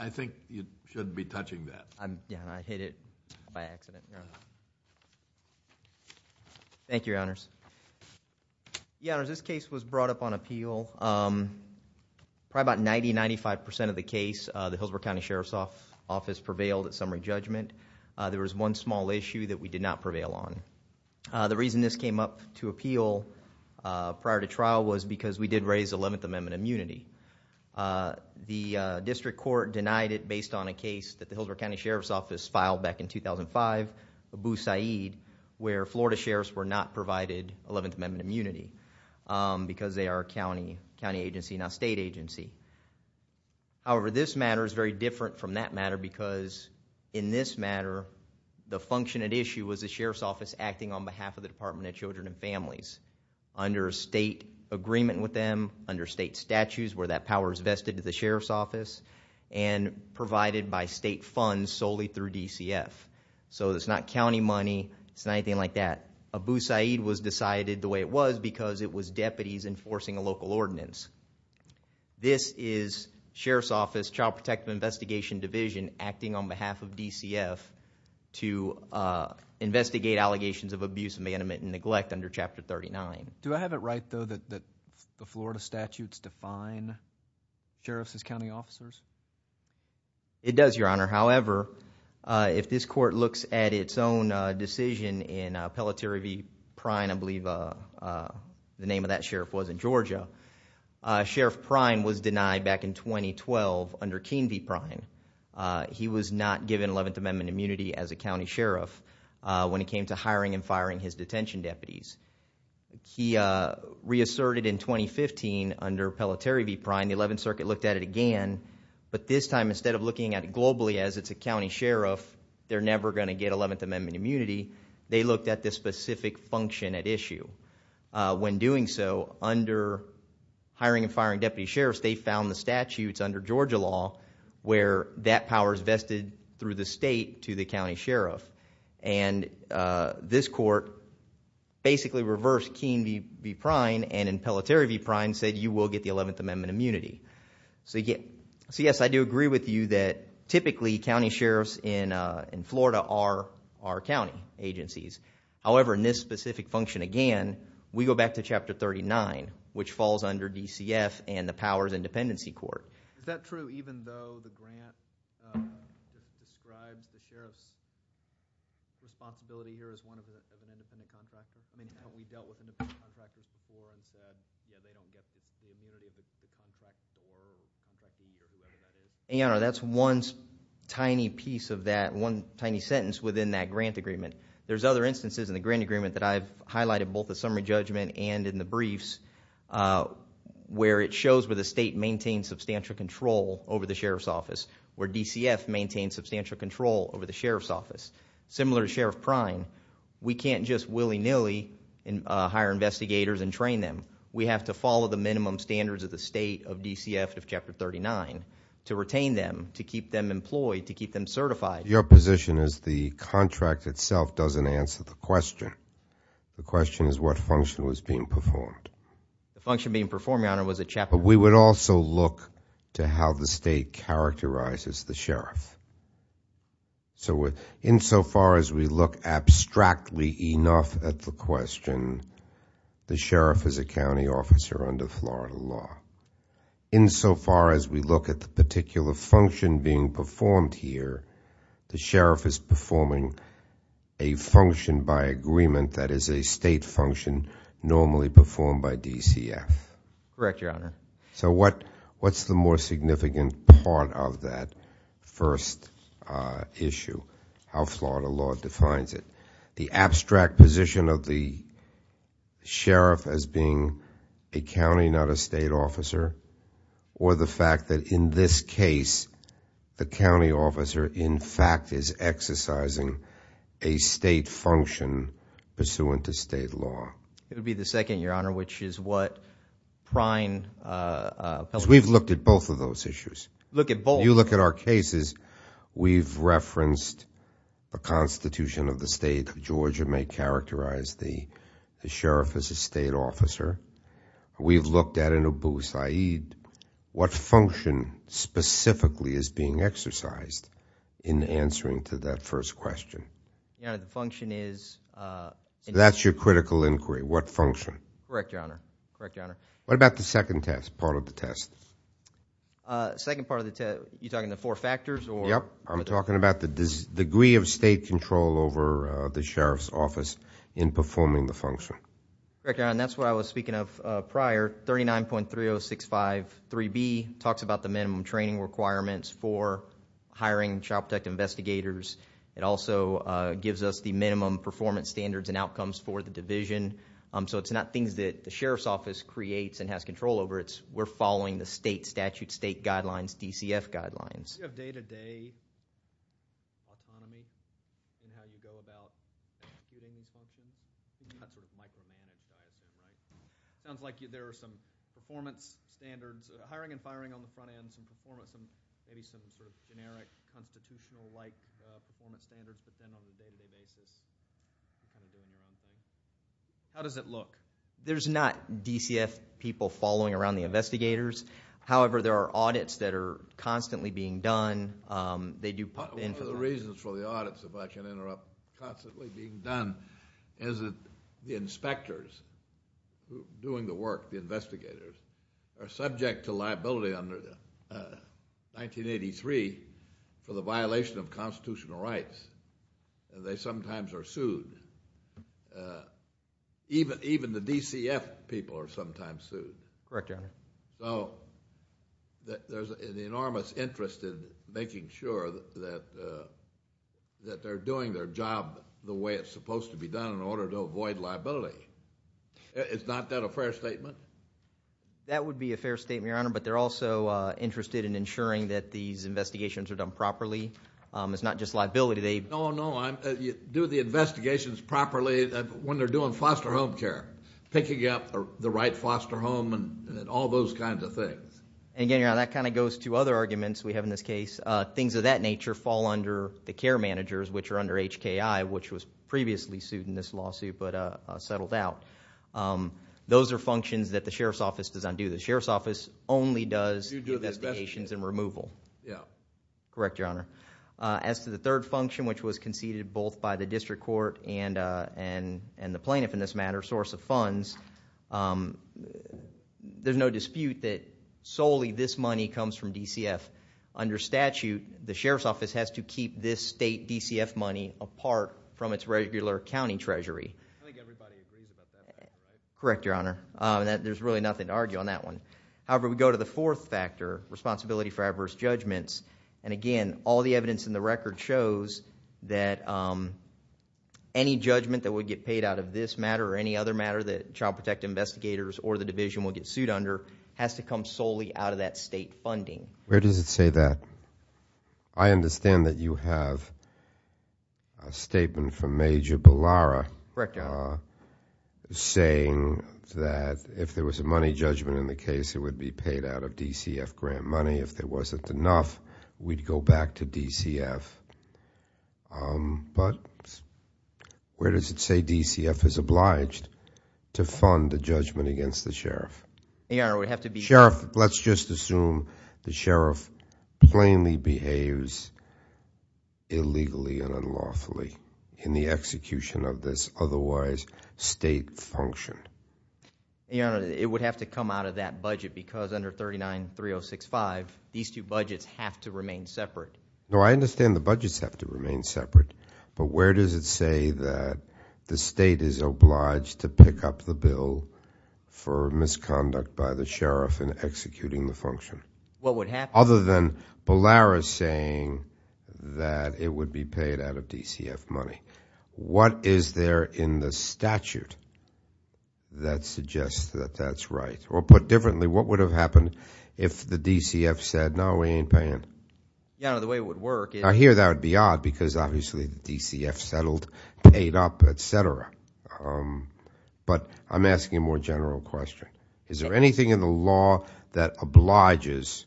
I think you shouldn't be touching that. Yeah, I hit it by accident. Thank you, Your Honors. Your Honors, this case was brought up on appeal, probably about 90-95% of the case the Hillsborough County Sheriff's Office prevailed at summary judgment. There was one small issue that we did not prevail on. The reason this came up to appeal prior to trial was because we did raise 11th Amendment immunity. The district court denied it based on a case that the Hillsborough County Sheriff's Office filed back in 2005, Abu Saeed, where Florida sheriffs were not provided 11th Amendment immunity because they are a county agency, not a state agency. However, this matter is very different from that matter because in this matter the function at issue was the Sheriff's Office acting on behalf of the Department of Children and Families under a state agreement with them, under state statutes where that power is vested to the Sheriff's Office, and provided by state funds solely through DCF. So it's not county money, it's not anything like that. Abu Saeed was decided the way it was because it was deputies enforcing a local ordinance. This is Sheriff's Office, Child Protective Investigation Division acting on behalf of DCF to investigate allegations of abuse, abandonment, and neglect under Chapter 39. Do I have it right though that the Florida statutes define sheriffs as county officers? It does, Your Honor. However, if this court looks at its own decision in Pelletier v. Pryne, I believe the name of that sheriff was in Georgia, Sheriff Pryne was denied back in 2012 under Keene v. Pryne. He was not given 11th Amendment immunity as a county sheriff when it came to hiring and firing his detention deputies. He reasserted in 2015 under Pelletier v. Pryne, the 11th Circuit looked at it again, but this time instead of looking at it globally as it's a county sheriff, they're never going to get 11th Amendment immunity, they looked at the specific function at issue. When doing so, under hiring and firing deputy sheriffs, they found the statutes under Georgia law where that power is vested through the state to the county sheriff. And this court basically reversed Keene v. Pryne and in Pelletier v. Pryne said you will get the 11th Amendment immunity. So yes, I do agree with you that typically county sheriffs in Florida are county agencies. However, in this specific function again, we go back to Chapter 39, which falls under DCF and the powers in dependency court. Is that true even though the grant describes the sheriff's responsibility here as one of the independent contractors? I mean, haven't we dealt with independent contractors before and said, yeah, they don't get the immunity, but the contract for the deputy sheriff? And that's one tiny piece of that, one tiny sentence within that grant agreement. There's other instances in the grant agreement that I've highlighted both the summary judgment and in the briefs where it shows where the state maintains substantial control over the sheriff's office, where DCF maintains substantial control over the sheriff's office. Similar to Sheriff Pryne, we can't just willy-nilly hire investigators and train them. We have to follow the minimum standards of the state of DCF Chapter 39 to retain them, to keep them employed, to keep them certified. Your position is the contract itself doesn't answer the question. The question is what function was being performed. The function being performed, Your Honor, was a chapter. But we would also look to how the state characterizes the sheriff. So insofar as we look abstractly enough at the question, the sheriff is a county officer under Florida law. Insofar as we look at the particular function being performed here, the sheriff is performing a function by agreement that is a state function normally performed by DCF. Correct, Your Honor. So what's the more significant part of that first issue, how Florida law defines it? The abstract position of the sheriff as being a county, not a state officer? Or the fact that in this case, the county officer, in fact, is exercising a state function pursuant to state law? It would be the second, Your Honor, which is what Pryne- Because we've looked at both of those issues. Look at both? You look at our cases, we've referenced a constitution of the state. Georgia may characterize the sheriff as a state officer. We've looked at an Abu Sayyid. What function specifically is being exercised in answering to that first question? Your Honor, the function is- That's your critical inquiry, what function? Correct, Your Honor. Correct, Your Honor. What about the second part of the test? Second part of the test, you're talking the four factors or- Yep, I'm talking about the degree of state control over the sheriff's office in performing the function. Correct, Your Honor, and that's what I was speaking of prior, 39.30653B talks about the minimum training requirements for hiring child protect investigators. It also gives us the minimum performance standards and outcomes for the division. So it's not things that the sheriff's office creates and has control over. We're following the state statute, state guidelines, DCF guidelines. Do you have day-to-day autonomy in how you go about executing these functions? I'm not sure there's a microphone on this side. It sounds like there are some performance standards, hiring and firing on the front end, some performance and maybe some sort of generic constitutional-like performance standards, but then on a day-to-day basis, how does it look? There's not DCF people following around the investigators. However, there are audits that are constantly being done. One of the reasons for the audits, if I can interrupt, constantly being done, is that the inspectors doing the work, the investigators, are subject to liability under 1983 for the violation of constitutional rights. They sometimes are sued. Even the DCF people are sometimes sued. Correct, Your Honor. So there's an enormous interest in making sure that they're doing their job the way it's supposed to be done in order to avoid liability. It's not that a fair statement? That would be a fair statement, Your Honor, but they're also interested in ensuring that these investigations are done properly. It's not just liability. No, no. Do the investigations properly when they're doing foster home care, picking up the right foster home and all those kinds of things. And again, Your Honor, that kind of goes to other arguments we have in this case. Things of that nature fall under the care managers, which are under HKI, which was previously sued in this lawsuit but settled out. Those are functions that the Sheriff's Office does not do. The Sheriff's Office only does the investigations and removal. Yeah. Correct, Your Honor. As to the third function, which was conceded both by the District Court and the plaintiff in this matter, source of funds, there's no dispute that solely this money comes from DCF. Under statute, the Sheriff's Office has to keep this state DCF money apart from its regular county treasury. I think everybody agrees about that. Correct, Your Honor. There's really nothing to argue on that one. However, we go to the fourth factor, responsibility for adverse judgments. And again, all the evidence in the record shows that any judgment that would get paid out of this matter or any other matter that child protective investigators or the division will get sued under has to come solely out of that state funding. Where does it say that? I understand that you have a statement from Major Bellara Correct. saying that if there was a money judgment in the case, it would be paid out of DCF grant money. If there wasn't enough, we'd go back to DCF. But where does it say DCF is obliged to fund the judgment against the Sheriff? Your Honor, we have to be- Sheriff, let's just assume the Sheriff plainly behaves illegally and unlawfully in the execution of this otherwise state function. Your Honor, it would have to come out of that budget because under 39-3065, these two budgets have to remain separate. No, I understand the budgets have to remain separate. But where does it say that the state is obliged to pick up the bill for misconduct by the Sheriff in executing the function? What would happen? Other than Bellara saying that it would be paid out of DCF money, what is there in the statute that suggests that that's right? Or put differently, what would have happened if the DCF said, no, we ain't paying? Your Honor, the way it would work is- I hear that would be odd because obviously the DCF settled, paid up, etc. But I'm asking a more general question. Is there anything in the law that obliges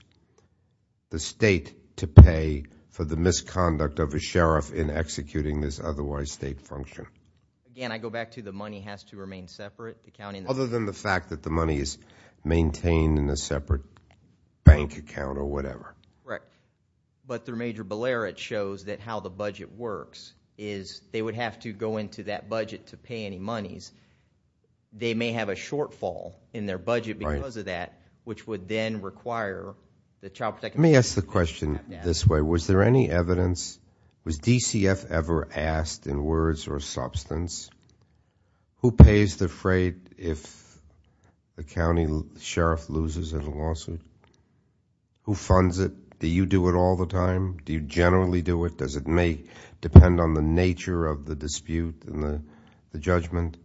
the state to pay for the misconduct of a Sheriff in executing this otherwise state function? Again, I go back to the money has to remain separate, accounting- Other than the fact that the money is maintained in a separate bank account or whatever. Correct. But through Major Bellara, it shows that how the budget works is they would have to go into that budget to pay any monies. They may have a shortfall in their budget because of that, which would then require the child protection- Let me ask the question this way. Was there any evidence, was DCF ever asked in words or substance, who pays the freight if the County Sheriff loses in a lawsuit? Who funds it? Do you do it all the time? Do you generally do it? Does it may depend on the nature of the dispute and the judgment?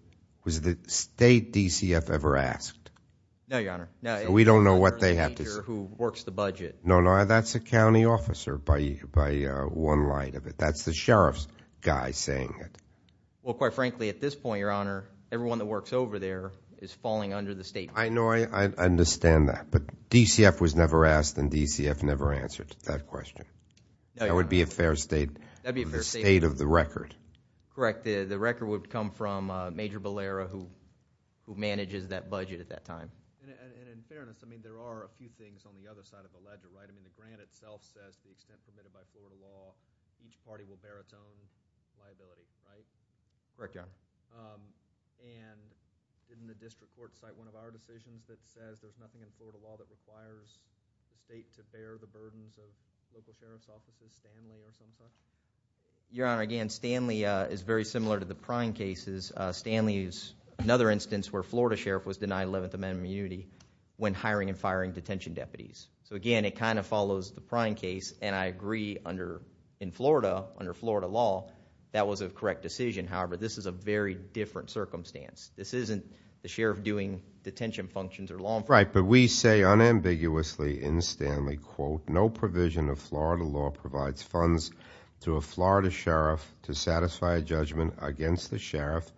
Was the state DCF ever asked? No, Your Honor. We don't know what they have to- Who works the budget. No, no. That's a county officer by one light of it. That's the Sheriff's guy saying it. Well, quite frankly, at this point, Your Honor, everyone that works over there is falling under the state- I know. I understand that. But DCF was never asked and DCF never answered that question. That would be a fair state of the record. Correct. The record would come from Major Ballera, who manages that budget at that time. And in fairness, I mean, there are a few things on the other side of the ledger, right? I mean, the grant itself says the extent committed by Florida law, each party will bear its own liability, right? Correct, Your Honor. And didn't the district court cite one of our decisions that says there's nothing in Florida law that requires the state to bear the burdens of local Sheriff's officers, Stanley or something like that? Your Honor, again, Stanley is very similar to the Pryne cases. Stanley is another instance where Florida Sheriff was denied 11th Amendment immunity when hiring and firing detention deputies. So again, it kind of follows the Pryne case. And I agree in Florida, under Florida law, that was a correct decision. However, this is a very different circumstance. This isn't the Sheriff doing detention functions or law enforcement. Right, but we say unambiguously in Stanley, quote, No provision of Florida law provides funds to a Florida Sheriff to satisfy a judgment against the Sheriff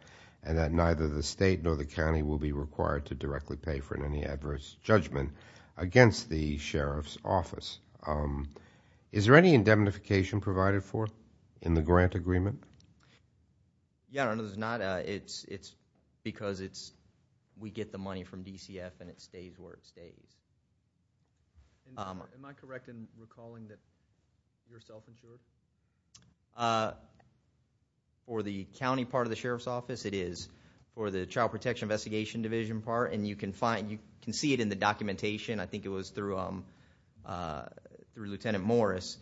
and that neither the state nor the county will be required to directly pay for any adverse judgment against the Sheriff's office. Is there any indemnification provided for in the grant agreement? Yeah, I don't know. There's not. It's because we get the money from DCF and it stays where it stays. Am I correct in recalling that you're self-employed? For the county part of the Sheriff's office, it is. For the Child Protection Investigation Division part, and you can find, you can see it in the documentation. I think it was through Lieutenant Morris.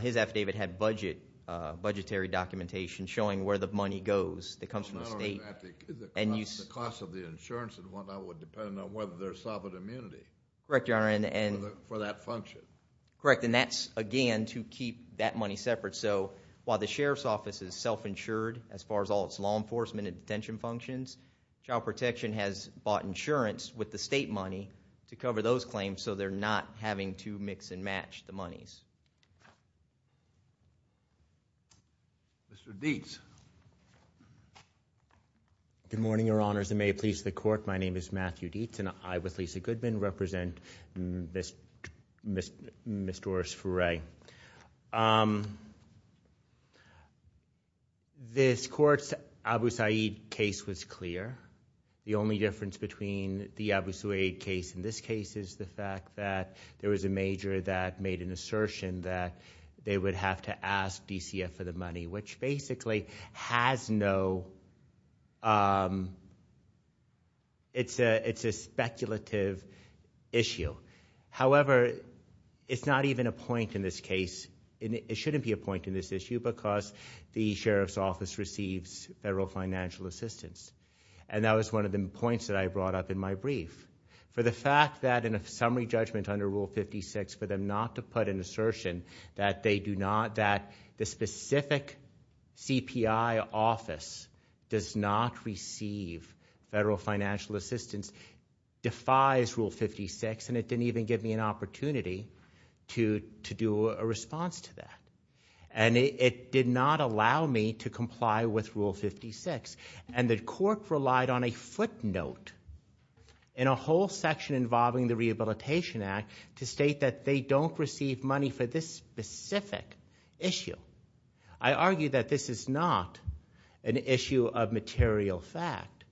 His affidavit had budgetary documentation showing where the money goes that comes from the state. I don't know about the cost of the insurance and whatnot would depend on whether there's immunity for that function. Correct, and that's, again, to keep that money separate. So while the Sheriff's office is self-insured as far as all its law enforcement and detention functions, Child Protection has bought insurance with the state money to cover those claims so they're not having to mix and match the monies. Mr. Dietz. Good morning, Your Honors, and may it please the Court. My name is Matthew Dietz and I, with Lisa Goodman, represent Ms. Doris Frey. This court's Abu Saeed case was clear. The only difference between the Abu Saeed case and this case is the fact that there was a major that made an assertion that they would have to ask DCF for the money, which basically has no—it's a speculative issue. However, it's not even a point in this case—it shouldn't be a point in this issue because the Sheriff's office receives federal financial assistance, and that was one of the points that I brought up in my brief. For the fact that in a summary judgment under Rule 56, for them not to put an assertion that they do not—that the specific CPI office does not receive federal financial assistance defies Rule 56, and it didn't even give me an opportunity to do a response to that. And it did not allow me to comply with Rule 56. And the court relied on a footnote in a whole section involving the Rehabilitation Act to state that they don't receive money for this specific issue. I argue that this is not an issue of material fact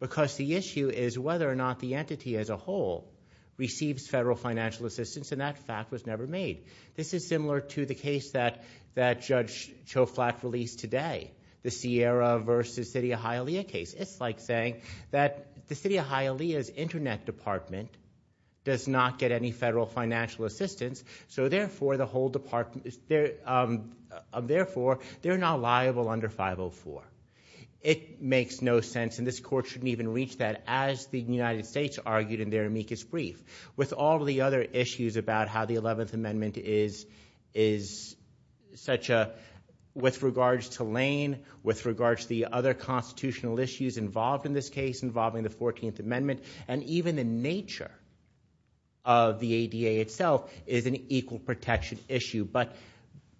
because the issue is whether or not the entity as a whole receives federal financial assistance, and that fact was never made. This is similar to the case that Judge Choflat released today, the Sierra versus City of Hialeah case. It's like saying that the City of Hialeah's internet department does not get any federal financial assistance, so therefore, the whole department—therefore, they're not liable under 504. It makes no sense, and this court shouldn't even reach that as the United States argued in their amicus brief. With all the other issues about how the 11th Amendment is such a—with regards to Lane, with regards to the other constitutional issues involved in this case involving the 14th and even the nature of the ADA itself is an equal protection issue. But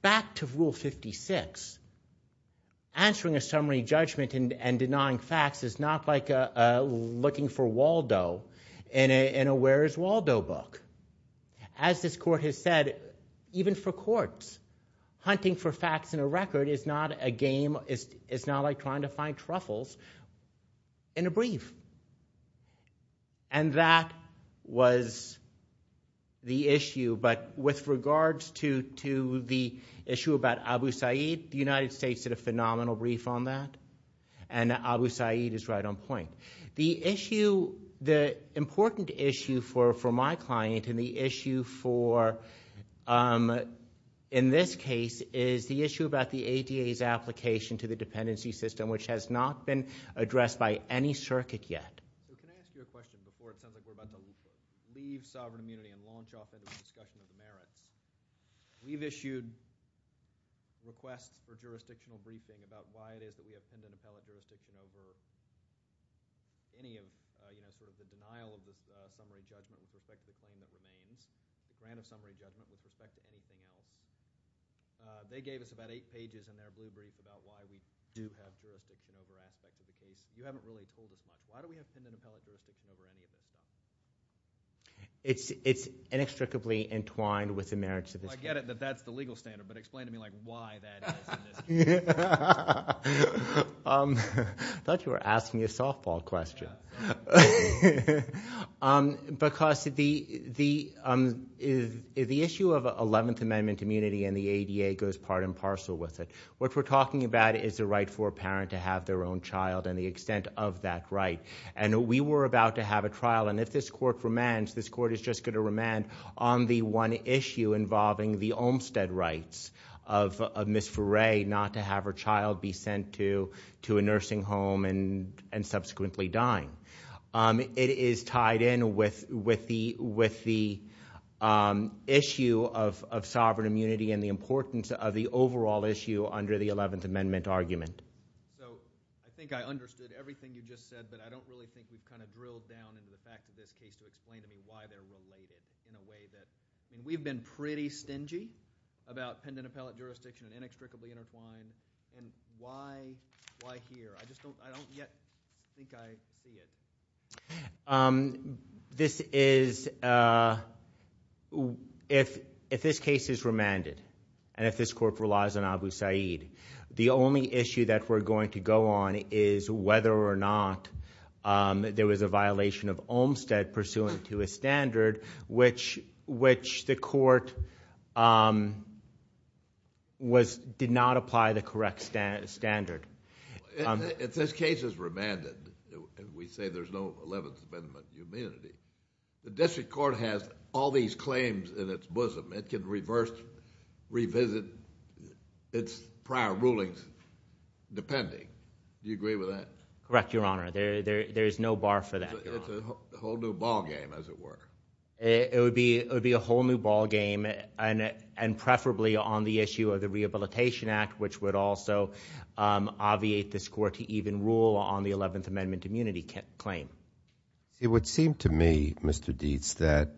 back to Rule 56, answering a summary judgment and denying facts is not like looking for Waldo in a Where's Waldo book. As this court has said, even for courts, hunting for facts in a record is not a game—is not like trying to find truffles in a brief. That was the issue, but with regards to the issue about Abu Sayyid, the United States did a phenomenal brief on that, and Abu Sayyid is right on point. The issue—the important issue for my client and the issue for—in this case is the issue about the ADA's application to the dependency system, which has not been addressed by any circuit yet. We can ask you a question before it's time to go back to the brief. Leave sovereign immunity and launch off into the discussion of the merits. We've issued requests for jurisdictional briefing about why it is that we have tender metallic jurisdiction over any of, you know, sort of the denial of this summary judgment with respect to claim that it remains. We ran a summary judgment with respect to case claim. They gave us about eight pages in their brief about why we do have jurisdiction over aspects of the case. You haven't really told us much. Why do we have tender metallic jurisdiction over any of this? It's inextricably entwined with the merits of this case. Well, I get it that that's the legal standard, but explain to me, like, why that is in this case. I thought you were asking me a softball question. Because the issue of 11th Amendment immunity and the ADA goes part and parcel with it. What we're talking about is the right for a parent to have their own child and the extent of that right. And we were about to have a trial, and if this court remands, this court is just going to remand on the one issue involving the Olmstead rights of Ms. Furey not to have her child be sent to a nursing home and subsequently dying. It is tied in with the issue of sovereign immunity and the importance of the overall issue under the 11th Amendment argument. So I think I understood everything you just said, but I don't really think you've kind of drilled down into the fact of this case to explain to me why they're related in a way that... I mean, we've been pretty stingy about tender metallic jurisdiction and inextricably intertwined, and why here? I just don't... I don't yet think I see it. This is... if this case is remanded and if this court relies on Abu Sayyid, the only issue that we're going to go on is whether or not there was a violation of Olmstead pursuant to a standard which the court did not apply the correct standard. If this case is remanded, and we say there's no 11th Amendment immunity, the district court has all these claims in its bosom. It can reverse... revisit its prior rulings depending. Do you agree with that? Correct, Your Honor. There is no bar for that, Your Honor. It's a whole new ballgame, as it were. It would be a whole new ballgame, and preferably on the issue of the Rehabilitation Act, which would also obviate this court to even rule on the 11th Amendment immunity claim. It would seem to me, Mr. Dietz, that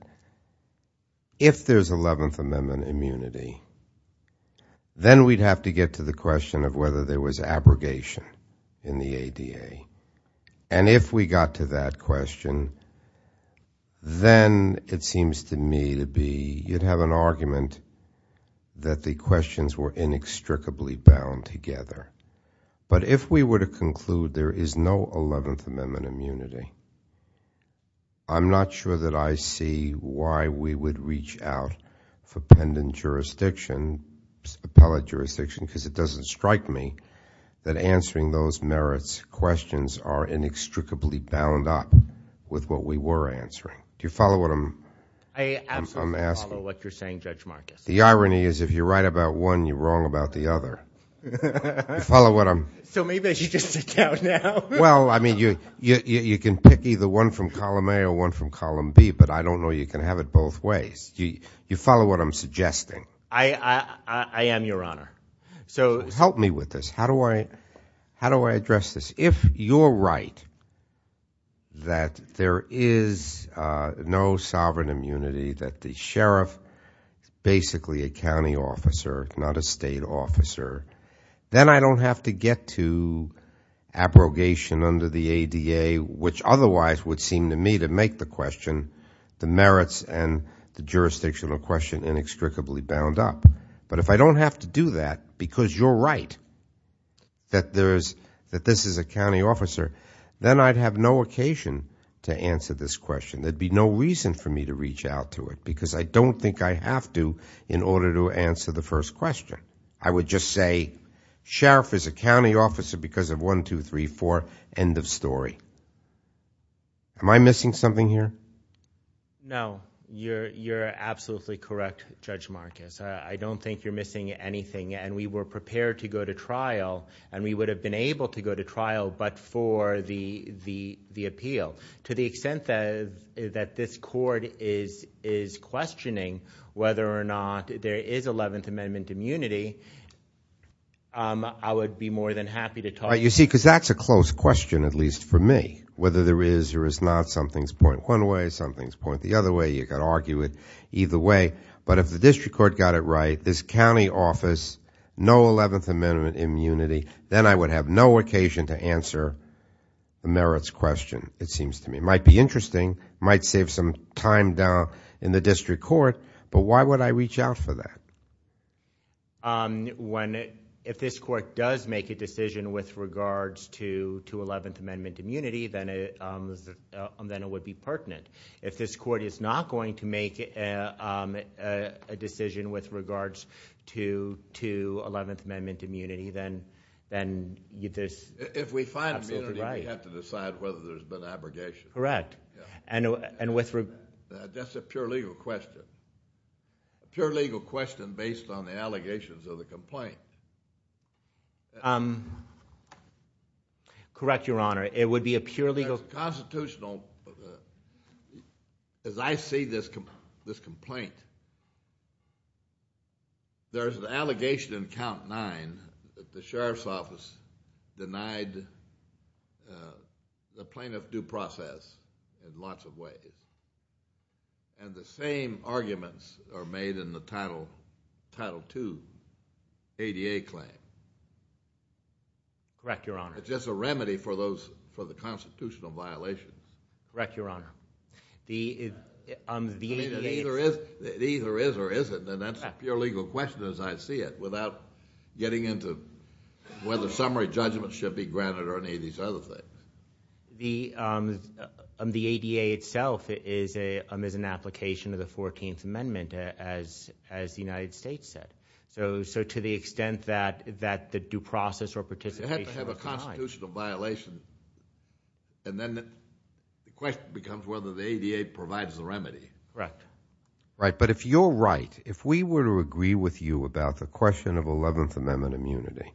if there's 11th Amendment immunity, then we'd have to get to the question of whether there was abrogation in the ADA. And if we got to that question, then it seems to me to be you'd have an argument that the questions were inextricably bound together. But if we were to conclude there is no 11th Amendment immunity, I'm not sure that I see why we would reach out for pendent jurisdiction, appellate jurisdiction, because it doesn't strike me that answering those merits questions are inextricably bound up with what we were answering. Do you follow what I'm... I absolutely follow what you're saying, Judge Marcus. The irony is if you're right about one, you're wrong about the other. So maybe I should just sit down now. Well, I mean, you can pick either one from column A or one from column B, but I don't know you can have it both ways. You follow what I'm suggesting? I am, Your Honor. Help me with this. How do I address this? If you're right that there is no sovereign immunity, that the sheriff is basically a to get to abrogation under the ADA, which otherwise would seem to me to make the question, the merits and the jurisdictional question inextricably bound up. But if I don't have to do that because you're right that this is a county officer, then I'd have no occasion to answer this question. There'd be no reason for me to reach out to it because I don't think I have to in order to answer the first question. I would just say sheriff is a county officer because of one, two, three, four, end of story. Am I missing something here? No, you're absolutely correct, Judge Marcus. I don't think you're missing anything and we were prepared to go to trial and we would have been able to go to trial but for the appeal. To the extent that this court is questioning whether or not there is 11th Amendment immunity, I would be more than happy to talk. You see, because that's a close question, at least for me. Whether there is or is not, something's point one way, something's point the other way, you can argue it either way. But if the district court got it right, this county office, no 11th Amendment immunity, then I would have no occasion to answer the merits question. It seems to me. Might be interesting, might save some time down in the district court but why would I reach out for that? If this court does make a decision with regards to 11th Amendment immunity, then it would be pertinent. If this court is not going to make a decision with regards to 11th Amendment immunity, then there's... Correct. That's a pure legal question. A pure legal question based on the allegations of the complaint. Correct, Your Honor. It would be a pure legal... Constitutional, as I see this complaint, there's an allegation in count nine that the sheriff's office denied the plaintiff due process in lots of ways. And the same arguments are made in the Title II ADA claim. Correct, Your Honor. It's just a remedy for the constitutional violations. Correct, Your Honor. I mean, it either is or isn't, and that's a pure legal question as I see it, without getting into whether summary judgment should be granted or any of these other things. The ADA itself is an application of the 14th Amendment, as the United States said. So, to the extent that the due process or participation... You have to have a constitutional violation, and then the question becomes whether the ADA provides the remedy. Correct. Right. But if you're right, if we were to agree with you about the question of 11th Amendment immunity,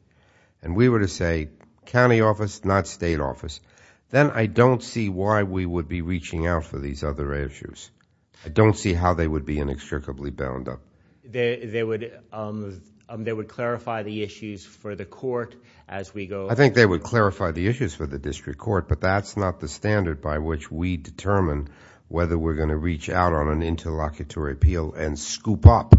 and we were to say, county office, not state office, then I don't see why we would be reaching out for these other issues. I don't see how they would be inextricably bound up. They would clarify the issues for the court as we go... I think they would clarify the issues for the district court, but that's not the standard by which we determine whether we're going to reach out on an interlocutory appeal and scoop up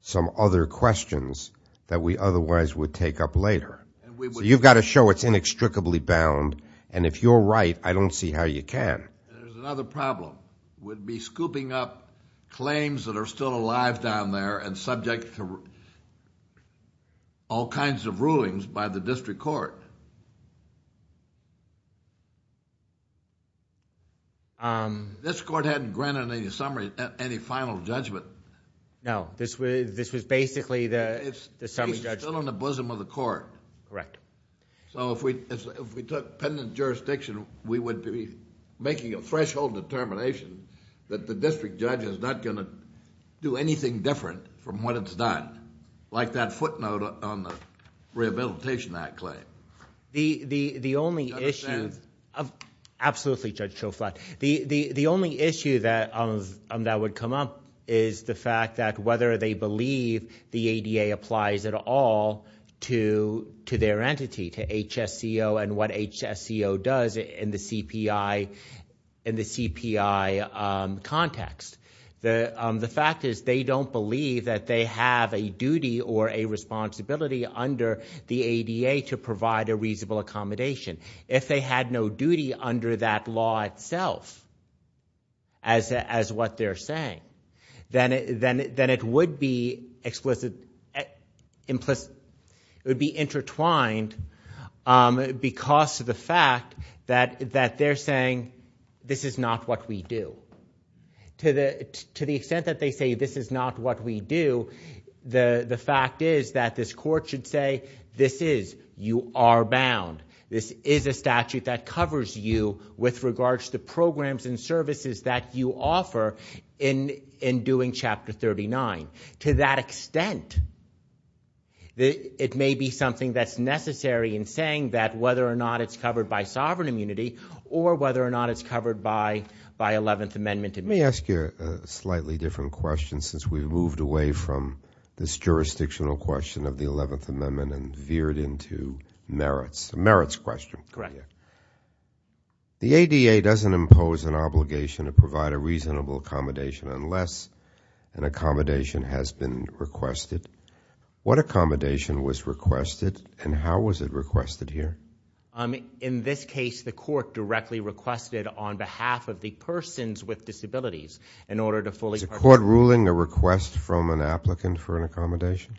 some other questions that we otherwise would take up later. So, you've got to show it's inextricably bound, and if you're right, I don't see how you can. There's another problem. We'd be scooping up claims that are still alive down there and subject to all kinds of rulings by the district court. This court hadn't granted any final judgment. No, this was basically the... It's still in the bosom of the court. Correct. So, if we took pendant jurisdiction, we would be making a threshold determination that the district judge is not going to do anything different from what it's done, like that footnote on the Rehabilitation Act claim. Do you understand? The only issue... Absolutely, Judge Schoflat. The only issue that would come up is the fact that whether they believe the ADA applies at all to their entity, to HSCO, and what HSCO does in the CPI context. The fact is they don't believe that they have a duty or a responsibility under the ADA to provide a reasonable accommodation. If they had no duty under that law itself, as what they're saying, then it would be explicit... It would be intertwined because of the fact that they're saying, this is not what we do. To the extent that they say, this is not what we do, the fact is that this court should say, this is. You are bound. This is a statute that covers you with regards to programs and services that you offer in doing Chapter 39. To that extent, it may be something that's necessary in saying that whether or not it's covered by sovereign immunity or whether or not it's covered by Eleventh Amendment. Let me ask you a slightly different question, since we've moved away from this jurisdictional question of the Eleventh Amendment and veered into merits. Merits question. Correct. The ADA doesn't impose an obligation to provide a reasonable accommodation unless an accommodation has been requested. What accommodation was requested and how was it requested here? In this case, the court directly requested on behalf of the persons with disabilities in order to fully... Is the court ruling a request from an applicant for an accommodation?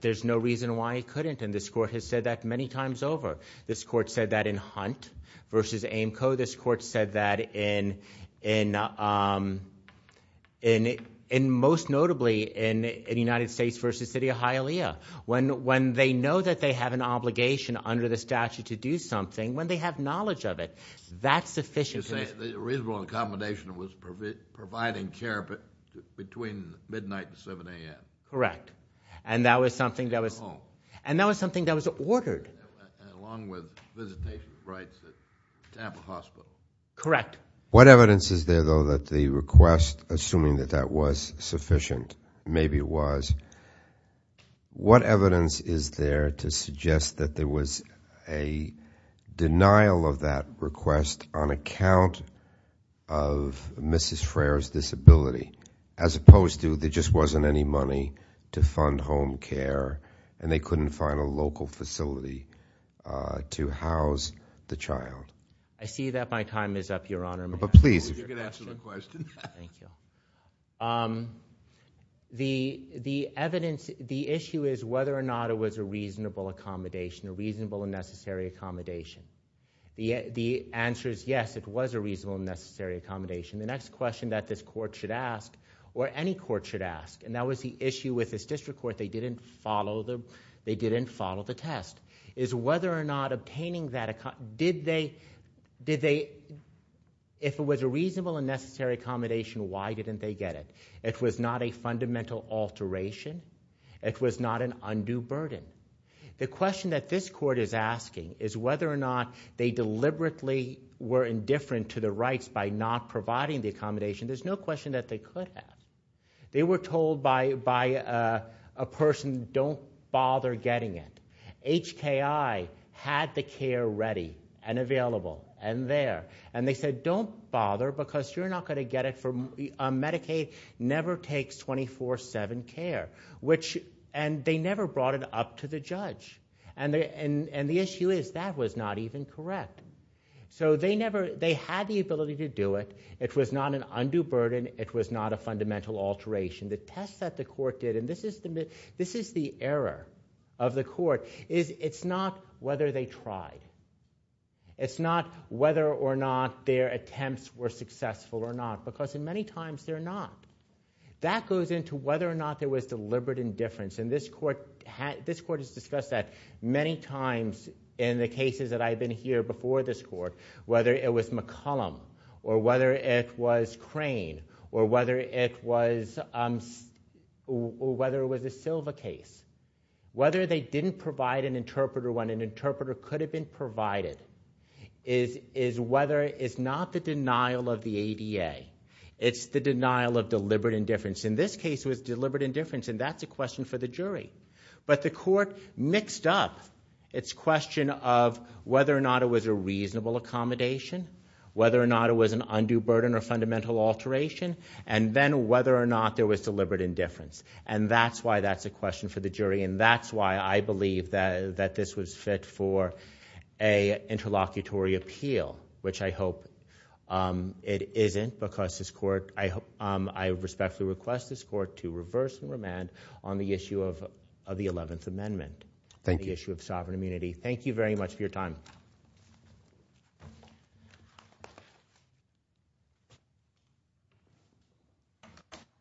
There's no reason why it couldn't, and this court has said that many times over. This court said that in Hunt v. Amco. This court said that in, most notably, in United States v. City of Hialeah. When they know that they have an obligation under the statute to do something, when they have knowledge of it, that's sufficient. You're saying the reasonable accommodation was providing care between midnight and 7 a.m.? Correct, and that was something that was... And that was something that was ordered. Along with visitation rights to have a hospital. Correct. What evidence is there, though, that the request, assuming that that was sufficient, maybe it was, what evidence is there to suggest that there was a denial of that request on account of Mrs. Frere's disability, as opposed to there just wasn't any money to fund home care, and they couldn't find a local facility to house the child? I see that my time is up, Your Honor. But please, if you could answer the question. Thank you. The evidence... The issue is whether or not it was a reasonable accommodation, a reasonable and necessary accommodation. The answer is yes, it was a reasonable and necessary accommodation. The next question that this court should ask, or any court should ask, and that was the issue with this district court, they didn't follow the test, is whether or not obtaining that... If it was a reasonable and necessary accommodation, why didn't they get it? It was not a fundamental alteration. It was not an undue burden. The question that this court is asking is whether or not they deliberately were indifferent to the rights by not providing the accommodation. There's no question that they could have. They were told by a person, don't bother getting it. HKI had the care ready and available and there, and they said, don't bother because you're not going to get it. Medicaid never takes 24-7 care, and they never brought it up to the judge. And the issue is that was not even correct. So they had the ability to do it. It was not an undue burden. It was not a fundamental alteration. The test that the court did, and this is the error of the court, is it's not whether they tried. It's not whether or not their attempts were successful or not, because in many times they're not. That goes into whether or not there was deliberate indifference. And this court has discussed that many times in the cases that I've been here before this court, whether it was McCollum, or whether it was Crane, or whether it was the Silva case. Whether they didn't provide an interpreter when an interpreter could have been provided is not the denial of the ADA. It's the denial of deliberate indifference. In this case, it was deliberate indifference, and that's a question for the jury. But the court mixed up its question of whether or not it was a reasonable accommodation, whether or not it was an undue burden or fundamental alteration, and then whether or not there was deliberate indifference. And that's why that's a question for the jury. And that's why I believe that this was fit for a interlocutory appeal, which I hope it isn't, because this court, I respectfully request this court to reverse and remand on the issue of the 11th Amendment. Thank you. The issue of sovereign immunity. Thank you very much for your time.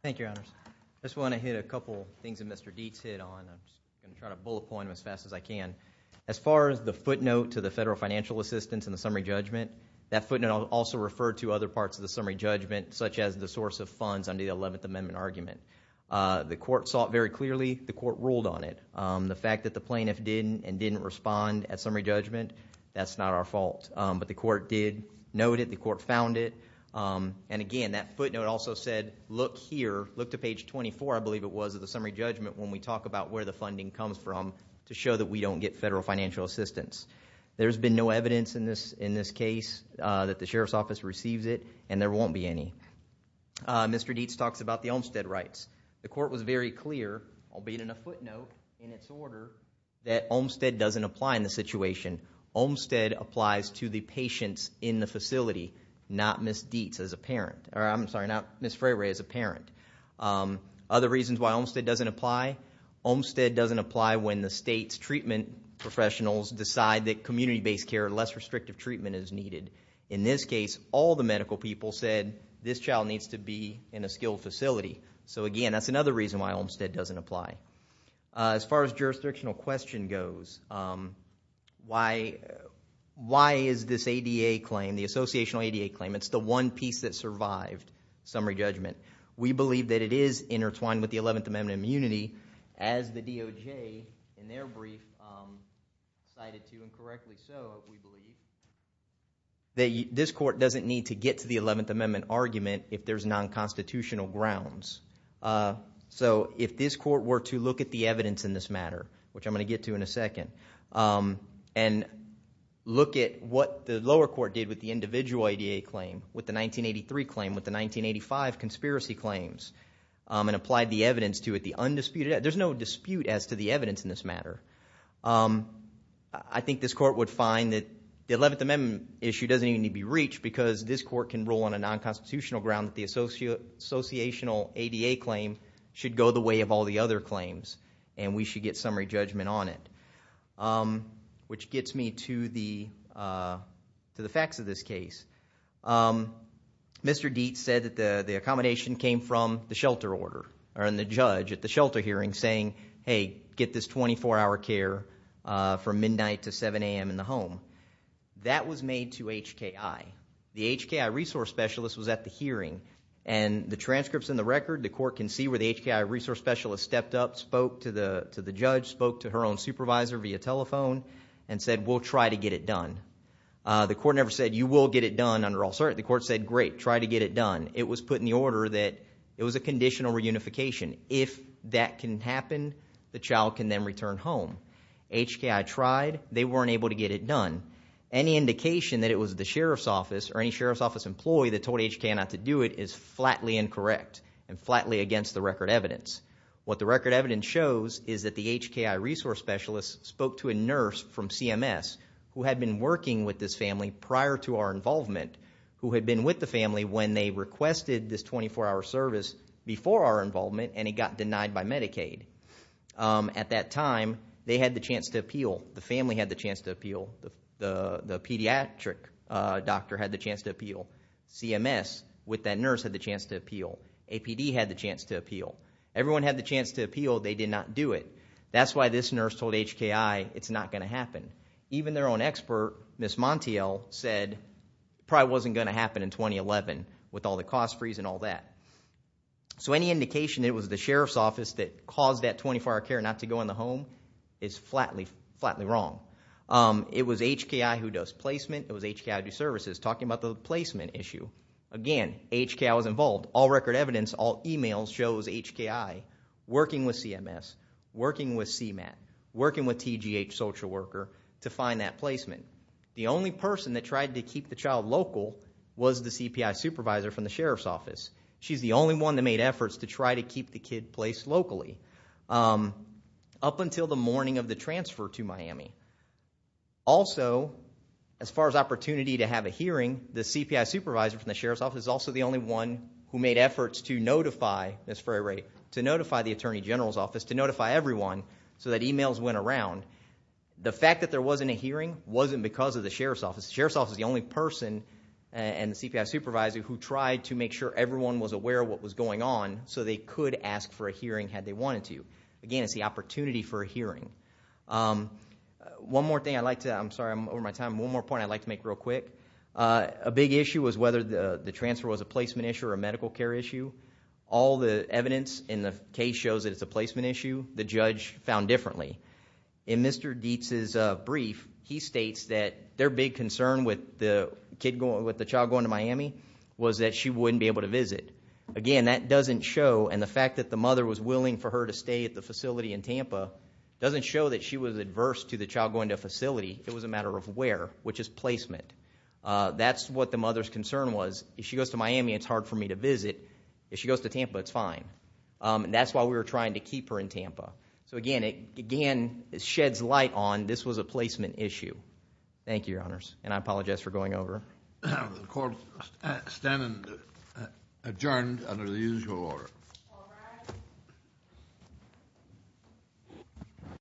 Thank you, Your Honors. I just want to hit a couple things that Mr. Dietz hit on. I'm going to try to bullet point them as fast as I can. As far as the footnote to the federal financial assistance in the summary judgment, that footnote also referred to other parts of the summary judgment, such as the source of funds under the 11th Amendment argument. The court saw it very clearly. The court ruled on it. The fact that the plaintiff did and didn't respond at summary judgment, that's not our fault. But the court did note it. The court found it. And again, that footnote also said, look here, look to page 24, I believe it was, of the summary judgment when we talk about where the funding comes from to show that we don't get federal financial assistance. There's been no evidence in this case that the Sheriff's Office receives it, and there won't be any. Mr. Dietz talks about the Olmstead rights. The court was very clear, albeit in a footnote, in its order, that Olmstead doesn't apply in the situation. Olmstead applies to the patients in the facility, not Ms. Dietz as a parent. Or I'm sorry, not Ms. Freire as a parent. Other reasons why Olmstead doesn't apply. Olmstead doesn't apply when the state's treatment professionals decide that community-based care or less restrictive treatment is needed. In this case, all the medical people said, this child needs to be in a skilled facility. So again, that's another reason why Olmstead doesn't apply. As far as jurisdictional question goes, why is this ADA claim, the associational ADA claim, it's the one piece that survived summary judgment. We believe that it is intertwined with the 11th Amendment immunity, as the DOJ, in their brief, cited to, and correctly so, we believe. This court doesn't need to get to the 11th Amendment argument if there's non-constitutional grounds. So if this court were to look at the evidence in this matter, which I'm going to get to in a second, and look at what the lower court did with the individual ADA claim, with the 1983 claim, with the 1985 conspiracy claims, and applied the evidence to it, the undisputed, there's no dispute as to the evidence in this matter. I think this court would find that the 11th Amendment issue doesn't even need to be reached, because this court can rule on a non-constitutional ground that the associational ADA claim should go the way of all the other claims, and we should get summary judgment on it. Which gets me to the facts of this case. Mr. Dietz said that the accommodation came from the shelter order, and the judge at the shelter hearing saying, hey, get this 24-hour care from midnight to 7 a.m. in the home. That was made to HKI. The HKI resource specialist was at the hearing, and the transcripts in the record, the court can see where the HKI resource specialist stepped up, spoke to the judge, spoke to her own supervisor via telephone, and said, we'll try to get it done. The court never said, you will get it done under all certainty. The court said, great, try to get it done. It was put in the order that it was a conditional reunification. If that can happen, the child can then return home. HKI tried. They weren't able to get it done. Any indication that it was the sheriff's office or any sheriff's office employee that told HKI not to do it is flatly incorrect and flatly against the record evidence. What the record evidence shows is that the HKI resource specialist spoke to a nurse from CMS who had been working with this family prior to our involvement, who had been with the family when they requested this 24-hour service before our involvement, and he got denied by Medicaid. At that time, they had the chance to appeal. The family had the chance to appeal. The pediatric doctor had the chance to appeal. CMS, with that nurse, had the chance to appeal. APD had the chance to appeal. Everyone had the chance to appeal. They did not do it. That's why this nurse told HKI, it's not going to happen. Even their own expert, Ms. Montiel, said it probably wasn't going to happen in 2011 with all the cost freeze and all that. So any indication it was the sheriff's office that caused that 24-hour care not to go in the home is flatly, flatly wrong. It was HKI who does placement. It was HKI who does services. Talking about the placement issue, again, HKI was involved. All record evidence, all emails shows HKI working with CMS, working with CMAT, working with TGH social worker to find that placement. The only person that tried to keep the child local was the CPI supervisor from the sheriff's office. She's the only one that made efforts to try to keep the kid placed locally up until the morning of the transfer to Miami. Also, as far as opportunity to have a hearing, the CPI supervisor from the sheriff's office is also the only one who made efforts to notify, Ms. Freire, to notify the attorney general's office, to notify everyone so that emails went around. The fact that there wasn't a hearing wasn't because of the sheriff's office. The sheriff's office is the only person and the CPI supervisor who tried to make sure everyone was aware of what was going on so they could ask for a hearing had they wanted to. Again, it's the opportunity for a hearing. One more thing I'd like to, I'm sorry, I'm over my time. One more point I'd like to make real quick. A big issue was whether the transfer was a placement issue or a medical care issue. All the evidence in the case shows that it's a placement issue. The judge found differently. In Mr. Dietz's brief, he states that their big concern with the child going to Miami was that she wouldn't be able to visit. Again, that doesn't show, and the fact that the mother was willing for her to stay at the facility in Tampa doesn't show that she was adverse to the child going to a facility. It was a matter of where, which is placement. That's what the mother's concern was. If she goes to Miami, it's hard for me to visit. If she goes to Tampa, it's fine. That's why we were trying to keep her in Tampa. Again, it sheds light on this was a placement issue. Thank you, your honors, and I apologize for going over. The court is adjourned under the usual order.